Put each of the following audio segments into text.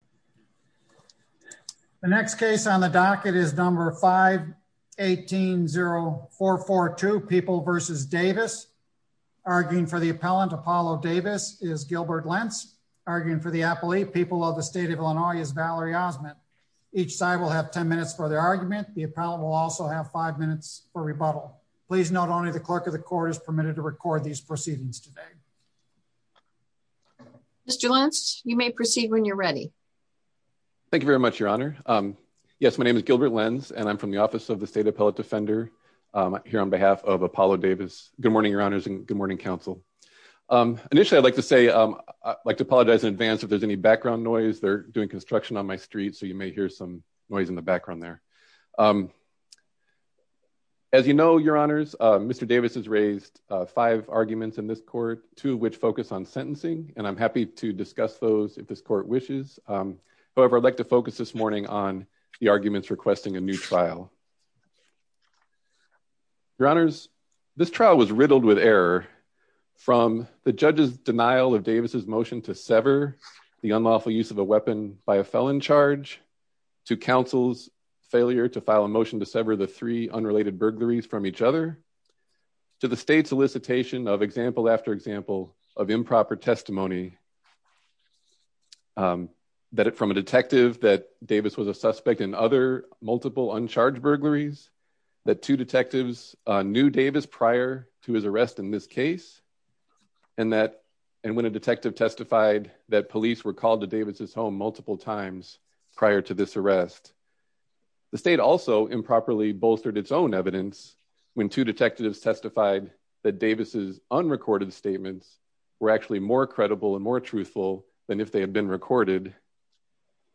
v. Davis. The next case on the docket is number 5 18 0442 people versus Davis. Arguing for the appellant. Apollo Davis is Gilbert Lentz. Arguing for the appellate people of the state of Illinois is Valerie Osmond. Each side will have 10 minutes for their argument. The appellant will also have five minutes for rebuttal. Please note only the clerk of the court is permitted to record these proceedings today. Mr Lentz, you may proceed when you're ready. Thank you very much, Your Honor. Yes, my name is Gilbert Lentz, and I'm from the Office of the State Appellate Defender here on behalf of Apollo Davis. Good morning, Your Honors, and good morning, counsel. Initially, I'd like to say I'd like to apologize in advance if there's any background noise. They're doing construction on my street, so you may hear some noise in the background there. As you know, Your Honors, Mr Davis has raised five arguments in this court, two of which focus on sentencing, and I'm happy to discuss those if this court wishes. However, I'd like to focus this morning on the arguments requesting a new trial. Your Honors, this trial was riddled with error, from the judge's denial of Davis's motion to sever the unlawful use of a weapon by a felon charge, to counsel's failure to file a motion to sever the three unrelated burglaries from each other, to the state's solicitation of example after example of improper testimony from a detective that Davis was a suspect in other multiple uncharged burglaries, that two detectives knew Davis prior to his arrest in this case, and when a detective testified that police were called to Davis's home multiple times prior to this arrest. The state also improperly bolstered its own evidence when two detectives testified that Davis's unrecorded statements were actually more credible and more truthful than if they had been recorded,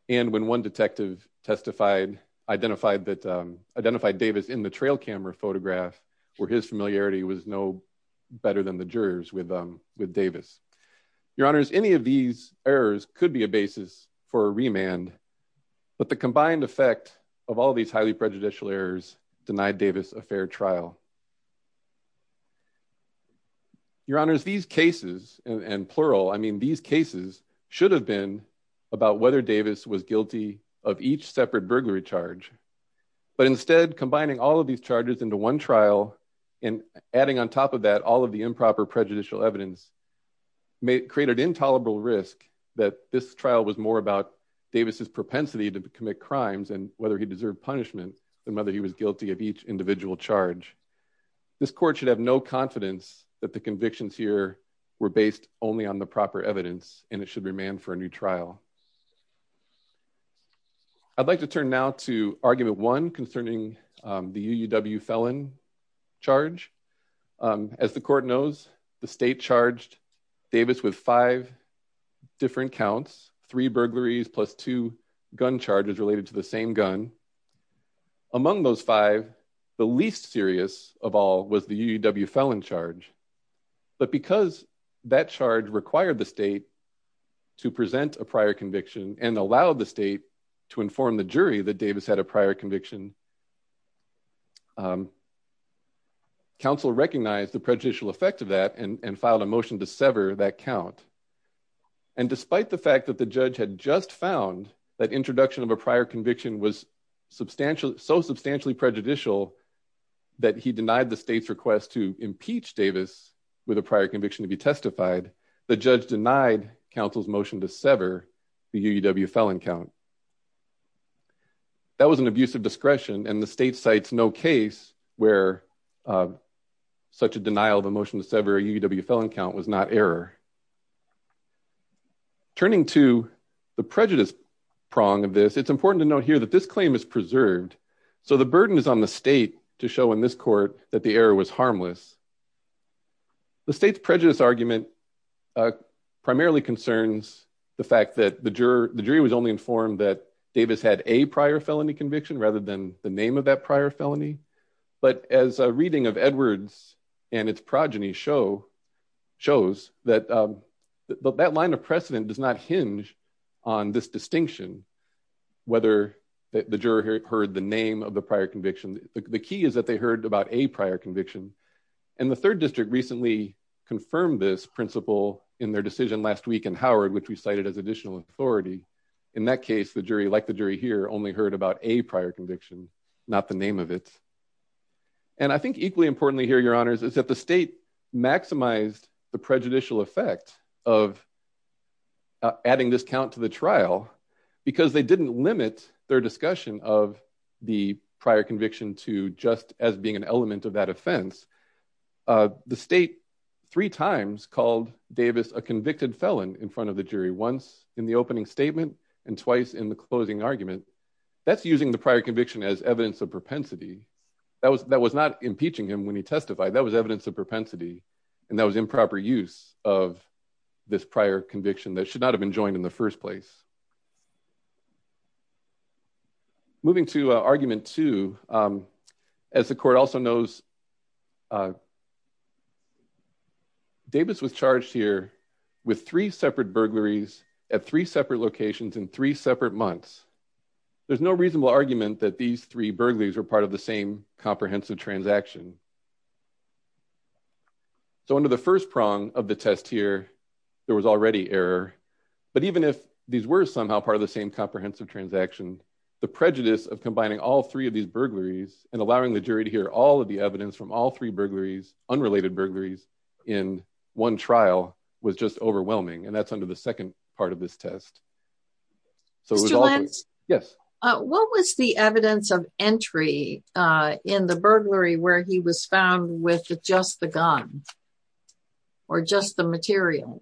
and when one detective identified Davis in the trail camera photograph, where his familiarity was no better than the jurors with Davis. Your Honors, any of these errors could be a basis for a remand, but the combined effect of all these highly prejudicial errors denied Davis a fair trial. Your Honors, these cases, and plural, I mean these cases should have been about whether Davis was guilty of each separate burglary charge, but instead combining all of these charges into one trial, and adding on top of that all of the improper prejudicial evidence, may create an intolerable risk that this trial was more about Davis's was guilty of each individual charge. This court should have no confidence that the convictions here were based only on the proper evidence, and it should remand for a new trial. I'd like to turn now to argument one concerning the UUW felon charge. As the court knows, the state charged Davis with five different counts, three burglaries plus two gun charges related to the same gun. Among those five, the least serious of all was the UUW felon charge, but because that charge required the state to present a prior conviction, and allowed the state to inform the jury that Davis had a prior conviction, counsel recognized the prejudicial effect of that, and filed a motion to sever that count, and despite the fact that the judge had just found that introduction of a prior conviction was so substantially prejudicial that he denied the state's request to impeach Davis with a prior conviction to be testified, the judge denied counsel's motion to sever the UUW felon count. That was an abusive discretion, and the state cites no case where such a denial of a motion to sever a UUW felon count was not error. Turning to the prejudice prong of this, it's important to note here that this claim is preserved, so the burden is on the state to show in this court that the error was harmless. The state's prejudice argument primarily concerns the fact that the jury was only informed that Davis had a prior felony conviction rather than the name of that prior conviction. The fact that the jury heard the name of the prior conviction, the key is that they heard about a prior conviction, and the third district recently confirmed this principle in their decision last week in Howard, which we cited as additional authority. In that case, the jury, like the jury here, only heard about a prior conviction, not the name of it, and I think equally importantly here, is that the state maximized the prejudicial effect of adding this count to the trial because they didn't limit their discussion of the prior conviction to just as being an element of that offense. The state three times called Davis a convicted felon in front of the jury, once in the opening statement and twice in the closing argument. That's using the prior conviction as evidence of propensity. That was not impeaching him when he testified. That was evidence of propensity, and that was improper use of this prior conviction that should not have been joined in the first place. Moving to argument two, as the court also knows, Davis was charged here with three separate burglaries at three separate locations in three separate months. There's no reasonable argument that these three burglaries were part of the same comprehensive transaction. So under the first prong of the test here, there was already error, but even if these were somehow part of the same comprehensive transaction, the prejudice of combining all three of these burglaries and allowing the jury to hear all of the evidence from all three burglaries, unrelated burglaries, in one trial was just overwhelming, and that's under the second part of this test. Mr. Lenz, what was the evidence of entry in the burglary where he was found with just the gun or just the material?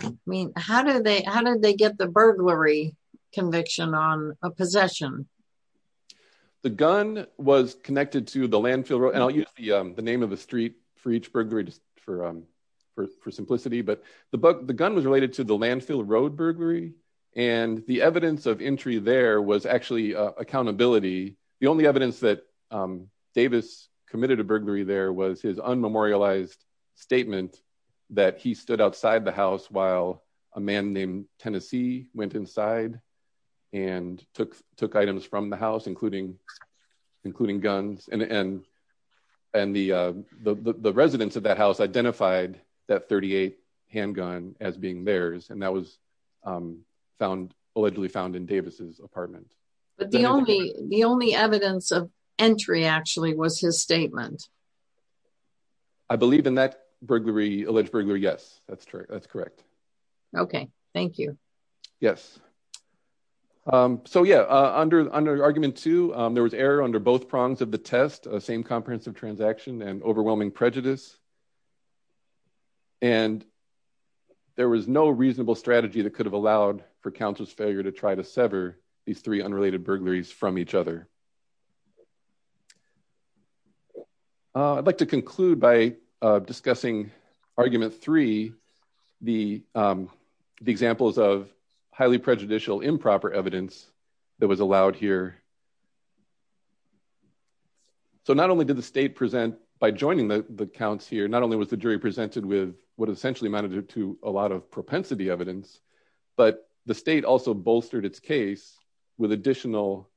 I mean, how did they get the burglary conviction on a possession? The gun was connected to the landfill road, and I'll use the name of the street for each road burglary, and the evidence of entry there was actually accountability. The only evidence that Davis committed a burglary there was his unmemorialized statement that he stood outside the house while a man named Tennessee went inside and took items from the house, including guns, and the residents of that house identified that .38 handgun as being theirs, and that was allegedly found in Davis's apartment. But the only evidence of entry actually was his statement. I believe in that alleged burglary, yes, that's correct. Okay, thank you. Yes, so yeah, under argument two, there was error under both prongs of the test, the same comprehensive transaction and overwhelming prejudice, and there was no reasonable strategy that could have allowed for counsel's failure to try to sever these three unrelated burglaries from each other. I'd like to conclude by discussing argument three, the examples of highly prejudicial improper evidence that was allowed here. Not only did the state present by joining the counts here, not only was the jury presented with what essentially amounted to a lot of propensity evidence, but the state also bolstered its case with additional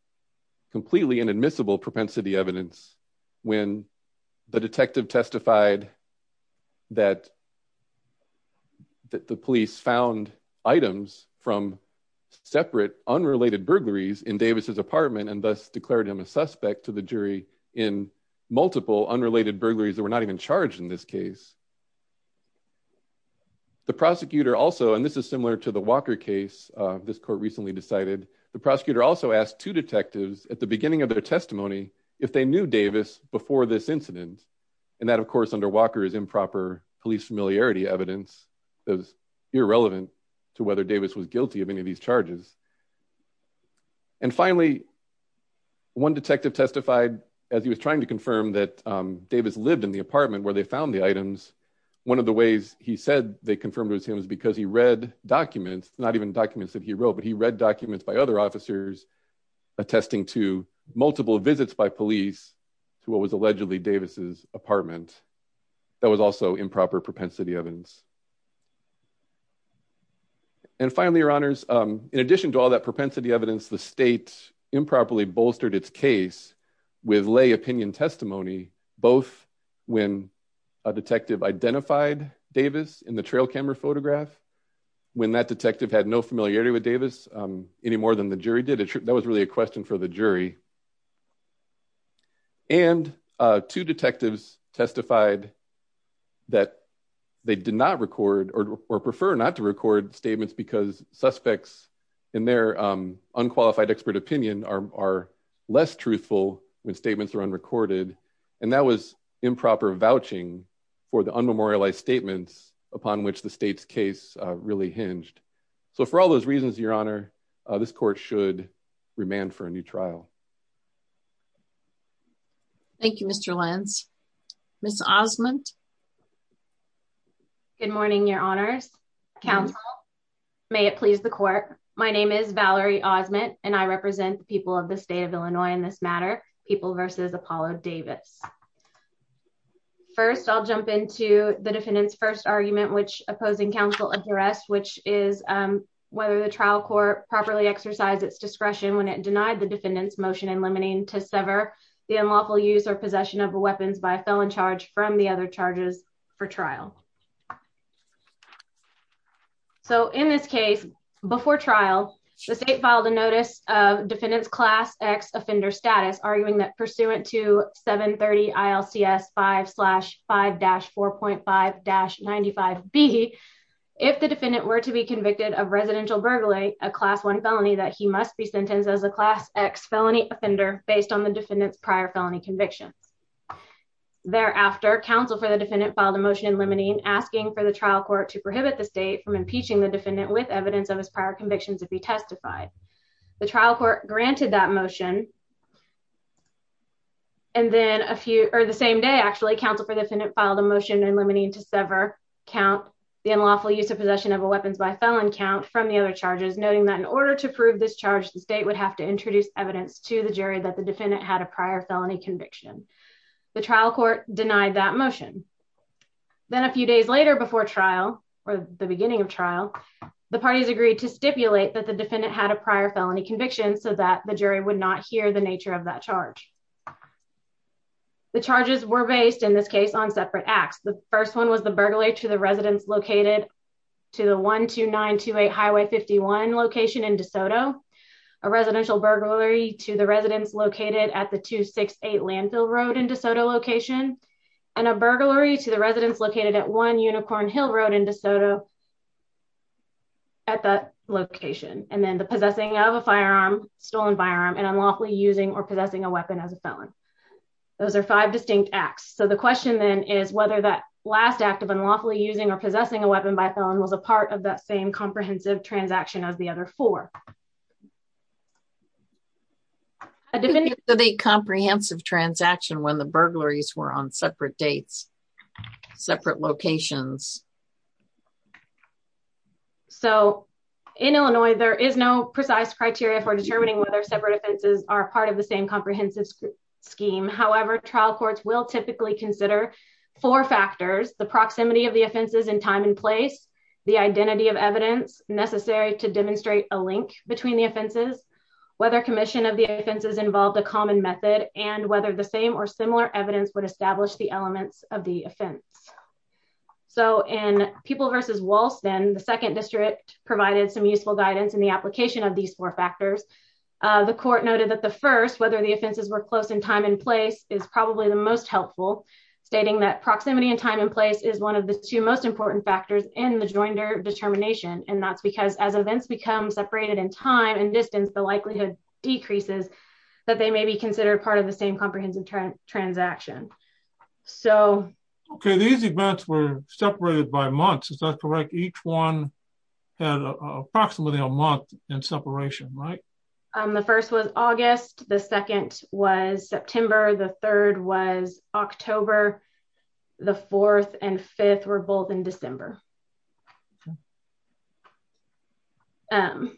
completely inadmissible propensity evidence when the detective testified that the police found items from separate unrelated burglaries in Davis's apartment and thus declared him a suspect to the jury in multiple unrelated burglaries that were not even charged in this case. The prosecutor also, and this is similar to the Walker case this court recently decided, the prosecutor also asked two detectives at the beginning of their testimony if they knew Davis before this incident, and that of course under Walker is improper police familiarity evidence that was irrelevant to whether Davis was guilty of any of these charges. And finally, one detective testified as he was trying to confirm that Davis lived in the apartment where they found the items. One of the ways he said they confirmed it was him was because he read documents, not even documents that he wrote, but he read documents by other officers attesting to multiple visits by police to what was allegedly Davis's apartment that was also improper propensity evidence. And finally, your honors, in addition to all that propensity evidence, the state improperly bolstered its case with lay opinion testimony, both when a detective identified Davis in the trail camera photograph, when that detective had no familiarity with Davis any more than the jury did. That was really a question for the jury. And two detectives testified that they did not record or prefer not to record statements because suspects in their unqualified expert opinion are less truthful when statements are unrecorded. And that was improper vouching for the unmemorialized statements upon which the state's case really hinged. So for all those reasons, your honor, this court should remand for a new trial. Thank you, Mr. Lenz. Ms. Osmond. Good morning, your honors, counsel. May it please the court. My name is Valerie Osmond, and I represent people of the state of Illinois in this matter, people versus Apollo Davis. First, I'll jump into the defendant's first argument, which opposing counsel address, which is whether the trial court properly exercise its discretion when it denied the the unlawful use or possession of weapons by a felon charge from the other charges for trial. So in this case, before trial, the state filed a notice of defendant's class X offender status, arguing that pursuant to 730 ILCS 5 slash 5 dash 4.5 dash 95 B, if the defendant were to be convicted of residential burglary, a class one felony that he must be sentenced as a class X felony offender based on the defendant's prior felony convictions. Thereafter, counsel for the defendant filed a motion in limine asking for the trial court to prohibit the state from impeaching the defendant with evidence of his prior convictions to be testified. The trial court granted that motion. And then a few or the same day, actually counsel for the defendant filed a motion in limine to sever count the unlawful use of possession of a weapons by felon count from the other charges, noting that in order to prove this charge, the state would have to introduce evidence to the jury that the defendant had a prior felony conviction. The trial court denied that motion. Then a few days later before trial or the beginning of trial, the parties agreed to stipulate that the defendant had a prior felony conviction so that the jury would not hear the nature of that charge. The charges were based in this case on separate acts. The first one was the burglary to the residents located to the 12928 Highway 51 location in DeSoto, a residential burglary to the residents located at the 268 Landfill Road in DeSoto location, and a burglary to the residents located at 1 Unicorn Hill Road in DeSoto at that location. And then the possessing of a firearm, stolen firearm and unlawfully using or possessing a weapon as a felon. Those are five distinct acts. So the question then is whether that last act of unlawfully using or possessing a weapon by felon was a part of that same transaction as the other four. A definitively comprehensive transaction when the burglaries were on separate dates, separate locations. So in Illinois, there is no precise criteria for determining whether separate offenses are part of the same comprehensive scheme. However, trial courts will typically consider four factors, the proximity of the offenses in time and place, the identity of evidence necessary to demonstrate a link between the offenses, whether commission of the offenses involved a common method, and whether the same or similar evidence would establish the elements of the offense. So in People v. Walston, the second district provided some useful guidance in the application of these four factors. The court noted that the first, whether the offenses were close in time and place is probably the most helpful, stating that proximity and time place is one of the two most important factors in the joinder determination. And that's because as events become separated in time and distance, the likelihood decreases that they may be considered part of the same comprehensive transaction. Okay, these events were separated by months, is that correct? Each one had approximately a month in separation, right? The first was August, the second was September, the third was October, the fourth and fifth were both in December. So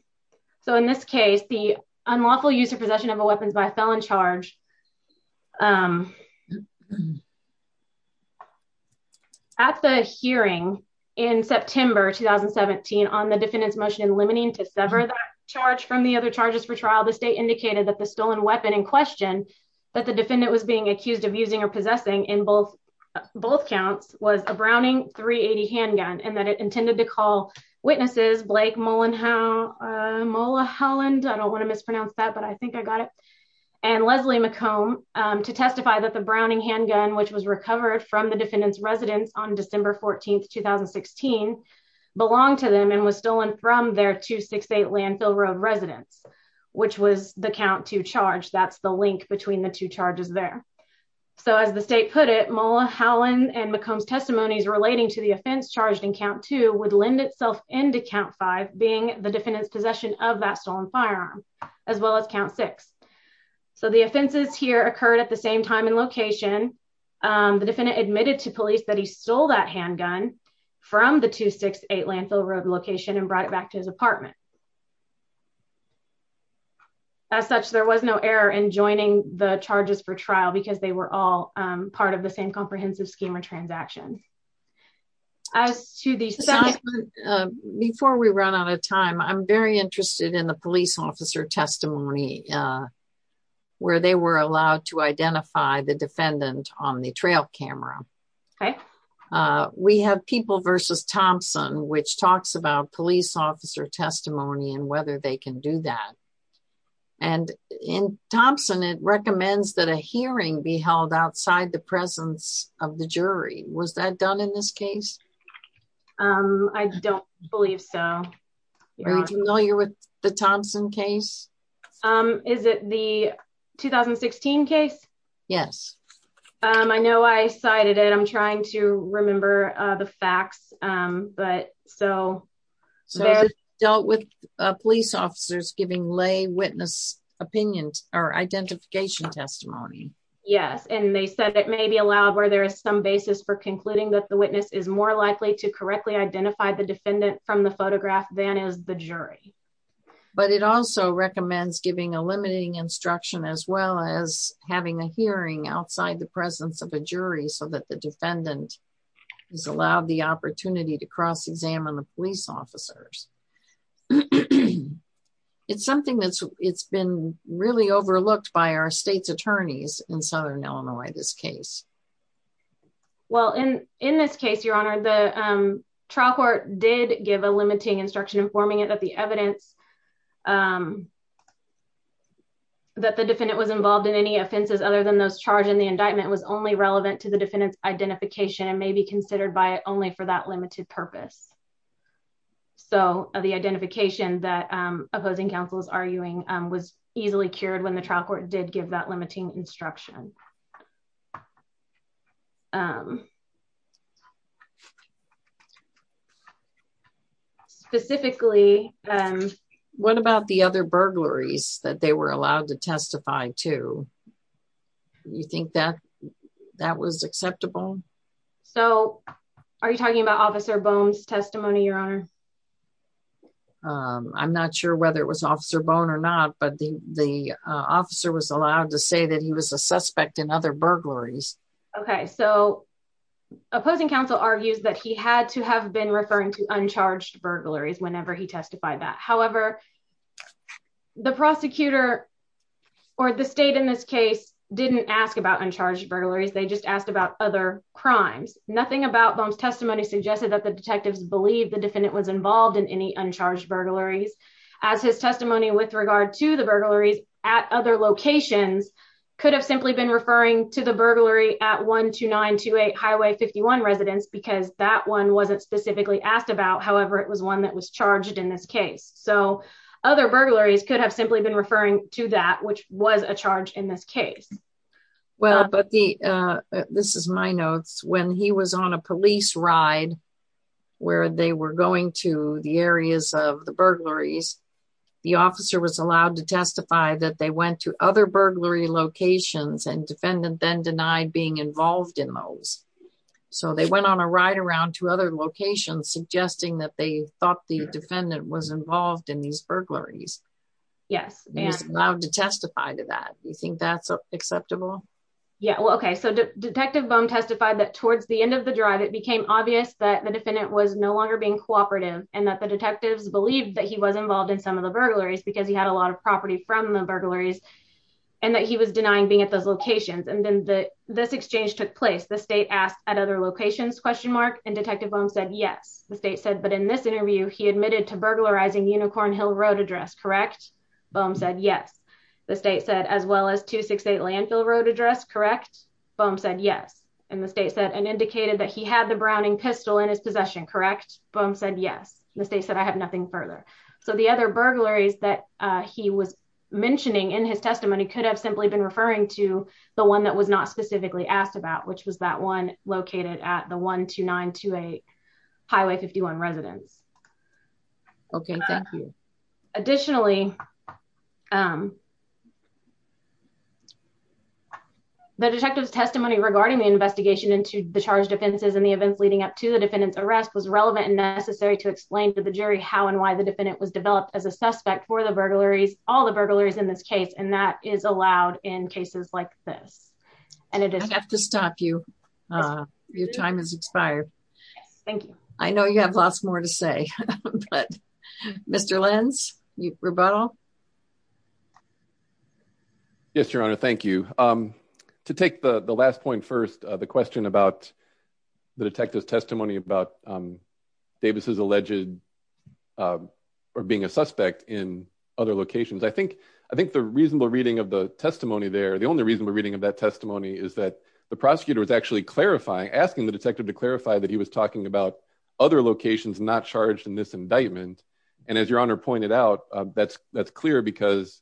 in this case, the unlawful use of possession of a weapons by a felon charge. At the hearing in September 2017 on the defendant's motion in limiting to sever that from the other charges for trial, the state indicated that the stolen weapon in question, that the defendant was being accused of using or possessing in both counts was a Browning 380 handgun, and that it intended to call witnesses Blake Mola Holland, I don't want to mispronounce that, but I think I got it, and Leslie McComb to testify that the Browning handgun, which was recovered from the defendant's residence on December 14, 2016, belonged to them and was 268 Landfill Road residence, which was the count to charge, that's the link between the two charges there. So as the state put it, Mola Holland and McComb's testimonies relating to the offense charged in count two would lend itself into count five, being the defendant's possession of that stolen firearm, as well as count six. So the offenses here occurred at the same time and location. The defendant admitted to police that he stole that handgun from the 268 Landfill Road location and brought it back to his apartment. As such, there was no error in joining the charges for trial because they were all part of the same comprehensive scheme or transaction. As to the second... Before we run out of time, I'm very interested in the police officer testimony where they were allowed to identify the defendant on the trail camera. Okay. We have People v. Thompson, which talks about police officer testimony and whether they can do that. And in Thompson, it recommends that a hearing be held outside the presence of the jury. Was that done in this case? I don't believe so. Are you familiar with the Thompson case? Is it the 2016 case? Yes. I know I cited it. I'm trying to remember the facts, but... So dealt with police officers giving lay witness opinions or identification testimony. Yes. And they said that may be allowed where there is some basis for concluding that the witness is more likely to correctly identify the defendant from the photograph than is the jury. But it also recommends giving a limiting instruction as well as having a hearing outside the presence of a jury so that the defendant is allowed the opportunity to cross-examine the police officers. It's something that's been really overlooked by our state's attorneys in Southern Illinois, this case. Well, in this case, Your Honor, the trial court did give a limiting instruction informing it that the evidence that the defendant was involved in any offenses other than those charged in the indictment was only relevant to the defendant's identification and may be considered by it only for that limited purpose. So the identification that opposing counsel is arguing was easily cured when the trial court did give that limiting instruction. Specifically... What about the other burglaries that they were allowed to testify to? You think that that was acceptable? So are you talking about Officer Bohn's testimony, Your Honor? I'm not sure whether it was Officer Bohn or not, but the officer was allowed to say that he was a in other burglaries. Okay, so opposing counsel argues that he had to have been referring to uncharged burglaries whenever he testified that. However, the prosecutor or the state in this case didn't ask about uncharged burglaries. They just asked about other crimes. Nothing about Bohn's testimony suggested that the detectives believed the defendant was involved in any uncharged burglaries, as his testimony with regard to the burglaries at other locations could have simply been referring to the burglary at 12928 Highway 51 residence because that one wasn't specifically asked about. However, it was one that was charged in this case. So other burglaries could have simply been referring to that, which was a charge in this case. Well, but the... This is my notes. When he was on a police ride where they were going to the areas of the burglaries, the officer was allowed to testify that they went to other burglary locations and defendant then denied being involved in those. So they went on a ride around to other locations suggesting that they thought the defendant was involved in these burglaries. Yes. He was allowed to testify to that. Do you think that's acceptable? Yeah. Well, okay. So Detective Bohn testified that towards the end of the drive, it became obvious that the defendant was no longer being cooperative and that the burglaries because he had a lot of property from the burglaries and that he was denying being at those locations. And then this exchange took place. The state asked at other locations, question mark, and Detective Bohn said, yes. The state said, but in this interview, he admitted to burglarizing Unicorn Hill Road address, correct? Bohn said, yes. The state said, as well as 268 Landfill Road address, correct? Bohn said, yes. And the state said, and indicated that he had the Browning pistol in his possession, correct? Bohn said, yes. And the state said, I have nothing further. So the other burglaries that he was mentioning in his testimony could have simply been referring to the one that was not specifically asked about, which was that one located at the 12928 Highway 51 residence. Okay. Thank you. Additionally, the detective's testimony regarding the investigation into the charged offenses and the events leading up to the defendant's arrest was relevant and necessary to explain to the jury how and why the defendant was developed as a suspect for the burglaries, all the burglaries in this case, and that is allowed in cases like this. And it is- I'd have to stop you. Your time has expired. Thank you. I know you have lots more to say, but Mr. Lenz, rebuttal. Yes, Your Honor. Thank you. To take the last point first, the question about the detective's testimony about Davis' alleged or being a suspect in other locations. I think the reasonable reading of the testimony there, the only reasonable reading of that testimony is that the prosecutor was actually clarifying, asking the detective to clarify that he was talking about other locations not charged in this indictment. And as Your Honor pointed out, that's clear because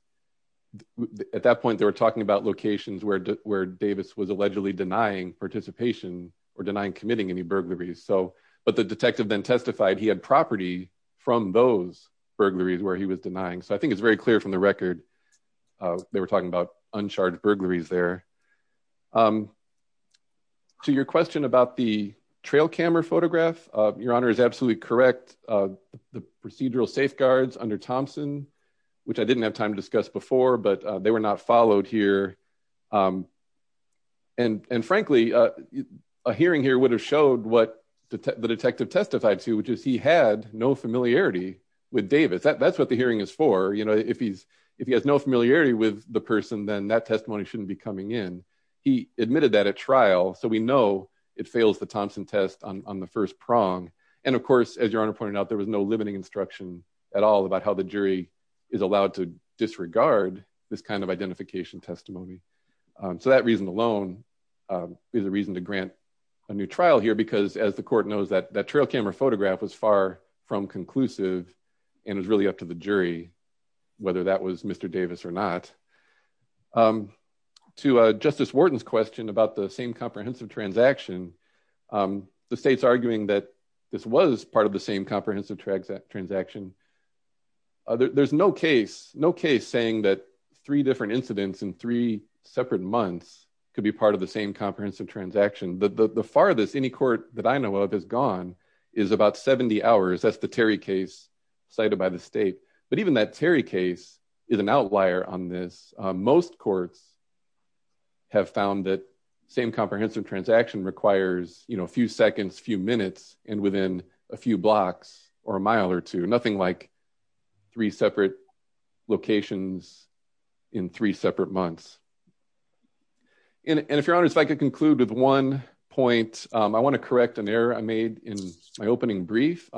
at that point, they were talking about locations where Davis was allegedly denying participation or denying committing any burglaries. But the detective then testified he had property from those burglaries where he was denying. So I think it's very clear from the record they were talking about uncharged burglaries there. To your question about the trail camera photograph, Your Honor is absolutely correct. The procedural safeguards under Thompson, which I didn't have time to discuss before, but they were not followed here. And frankly, a hearing here would have showed what the detective testified to, which is he had no familiarity with Davis. That's what the hearing is for. If he has no familiarity with the person, then that testimony shouldn't be coming in. He admitted that at trial. So we know it fails the Thompson test on the first prong. And of course, as Your Honor pointed out, there was no limiting instruction at all about how the jury is allowed to disregard this kind of identification testimony. So that reason alone is a reason to grant a new trial here, because as the court knows, that trail camera photograph was far from conclusive and it was really up to the jury whether that was Mr. Davis or not. To Justice Wharton's question about the same comprehensive transaction, the state's arguing that this was part of the same comprehensive transaction. There's no case saying that three different incidents in three separate months could be part of the same comprehensive transaction. The farthest any court that I know of has gone is about 70 hours. That's the Terry case cited by the state. But even that Terry case is an outlier on this. Most courts have found that same comprehensive transaction requires a few seconds, a few minutes, and within a few blocks or a mile or two. Nothing like three separate locations in three separate months. And if Your Honor, if I could conclude with one point, I want to correct an error I made in my opening brief.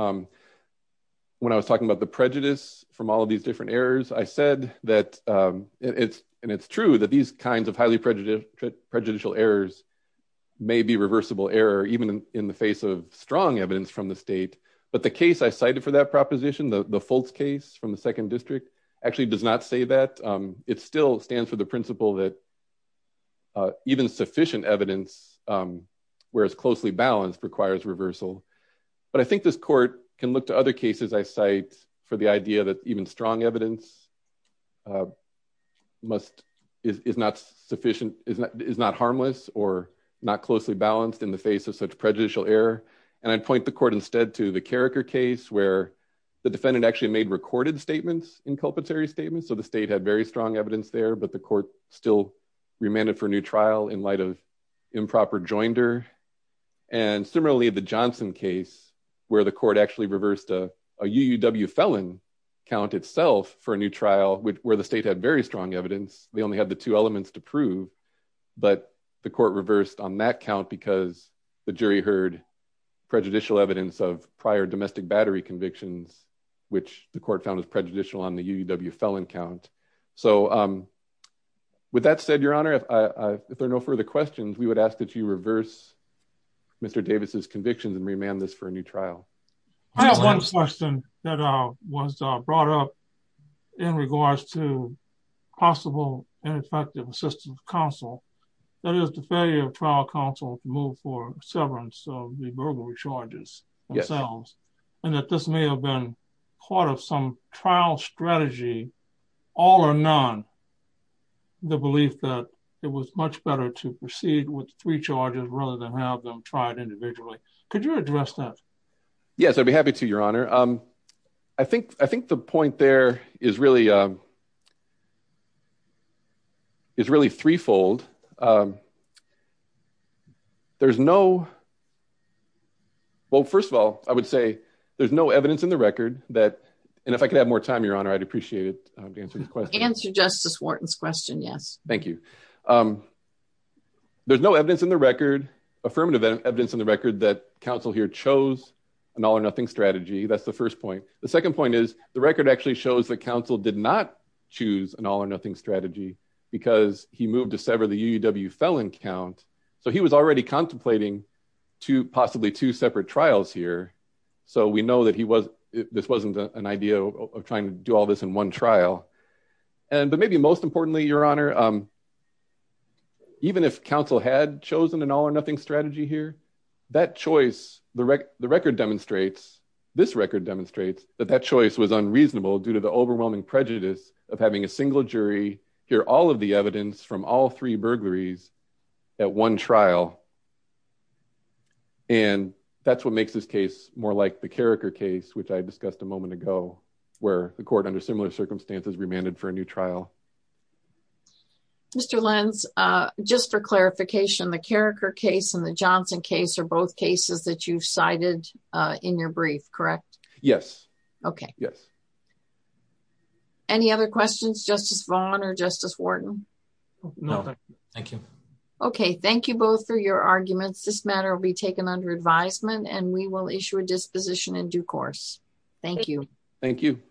When I was talking about the prejudice from all of these different errors, I said that it's true that these kinds of highly prejudicial errors may be reversible error even in the face of strong evidence from the state. But the case I cited for that proposition, the Foltz case from the second district, actually does not say that. It still stands for the principle that even sufficient evidence where it's closely balanced requires reversal. But I think this is not harmless or not closely balanced in the face of such prejudicial error. And I'd point the court instead to the Carriker case where the defendant actually made recorded statements in culpatory statements. So the state had very strong evidence there, but the court still remanded for a new trial in light of improper joinder. And similarly, the Johnson case where the court actually reversed a UUW felon count itself for a new trial where the state had strong evidence. They only had the two elements to prove, but the court reversed on that count because the jury heard prejudicial evidence of prior domestic battery convictions, which the court found as prejudicial on the UUW felon count. So with that said, Your Honor, if there are no further questions, we would ask that you reverse Mr. Davis's convictions and remand this for a new possible ineffective assistance counsel. That is the failure of trial counsel to move for severance of the burglary charges themselves. And that this may have been part of some trial strategy, all or none, the belief that it was much better to proceed with three charges rather than have them tried individually. Could you address that? Yes, I'd be happy to, Your Honor. I think the point there is really threefold. There's no, well, first of all, I would say there's no evidence in the record that, and if I could have more time, Your Honor, I'd appreciate it to answer this question. Answer Justice Wharton's question, yes. Thank you. There's no evidence in the record, affirmative evidence in the record that counsel here chose an all or nothing strategy. That's first point. The second point is the record actually shows that counsel did not choose an all or nothing strategy because he moved to sever the UUW felon count. So he was already contemplating two, possibly two separate trials here. So we know that he was, this wasn't an idea of trying to do all this in one trial. And, but maybe most importantly, Your Honor, even if counsel had chosen an all or nothing strategy here, that choice, the record demonstrates, this record demonstrates that that choice was unreasonable due to the overwhelming prejudice of having a single jury hear all of the evidence from all three burglaries at one trial. And that's what makes this case more like the Carriker case, which I discussed a moment ago, where the court under similar circumstances remanded for a new trial. Mr. Lenz, just for clarification, the Carriker case and the Johnson case are both cases that you cited in your brief, correct? Yes. Okay. Yes. Any other questions, Justice Vaughn or Justice Wharton? No, thank you. Okay. Thank you both for your arguments. This matter will be taken under advisement and we will issue a disposition in due course. Thank you. Thank you.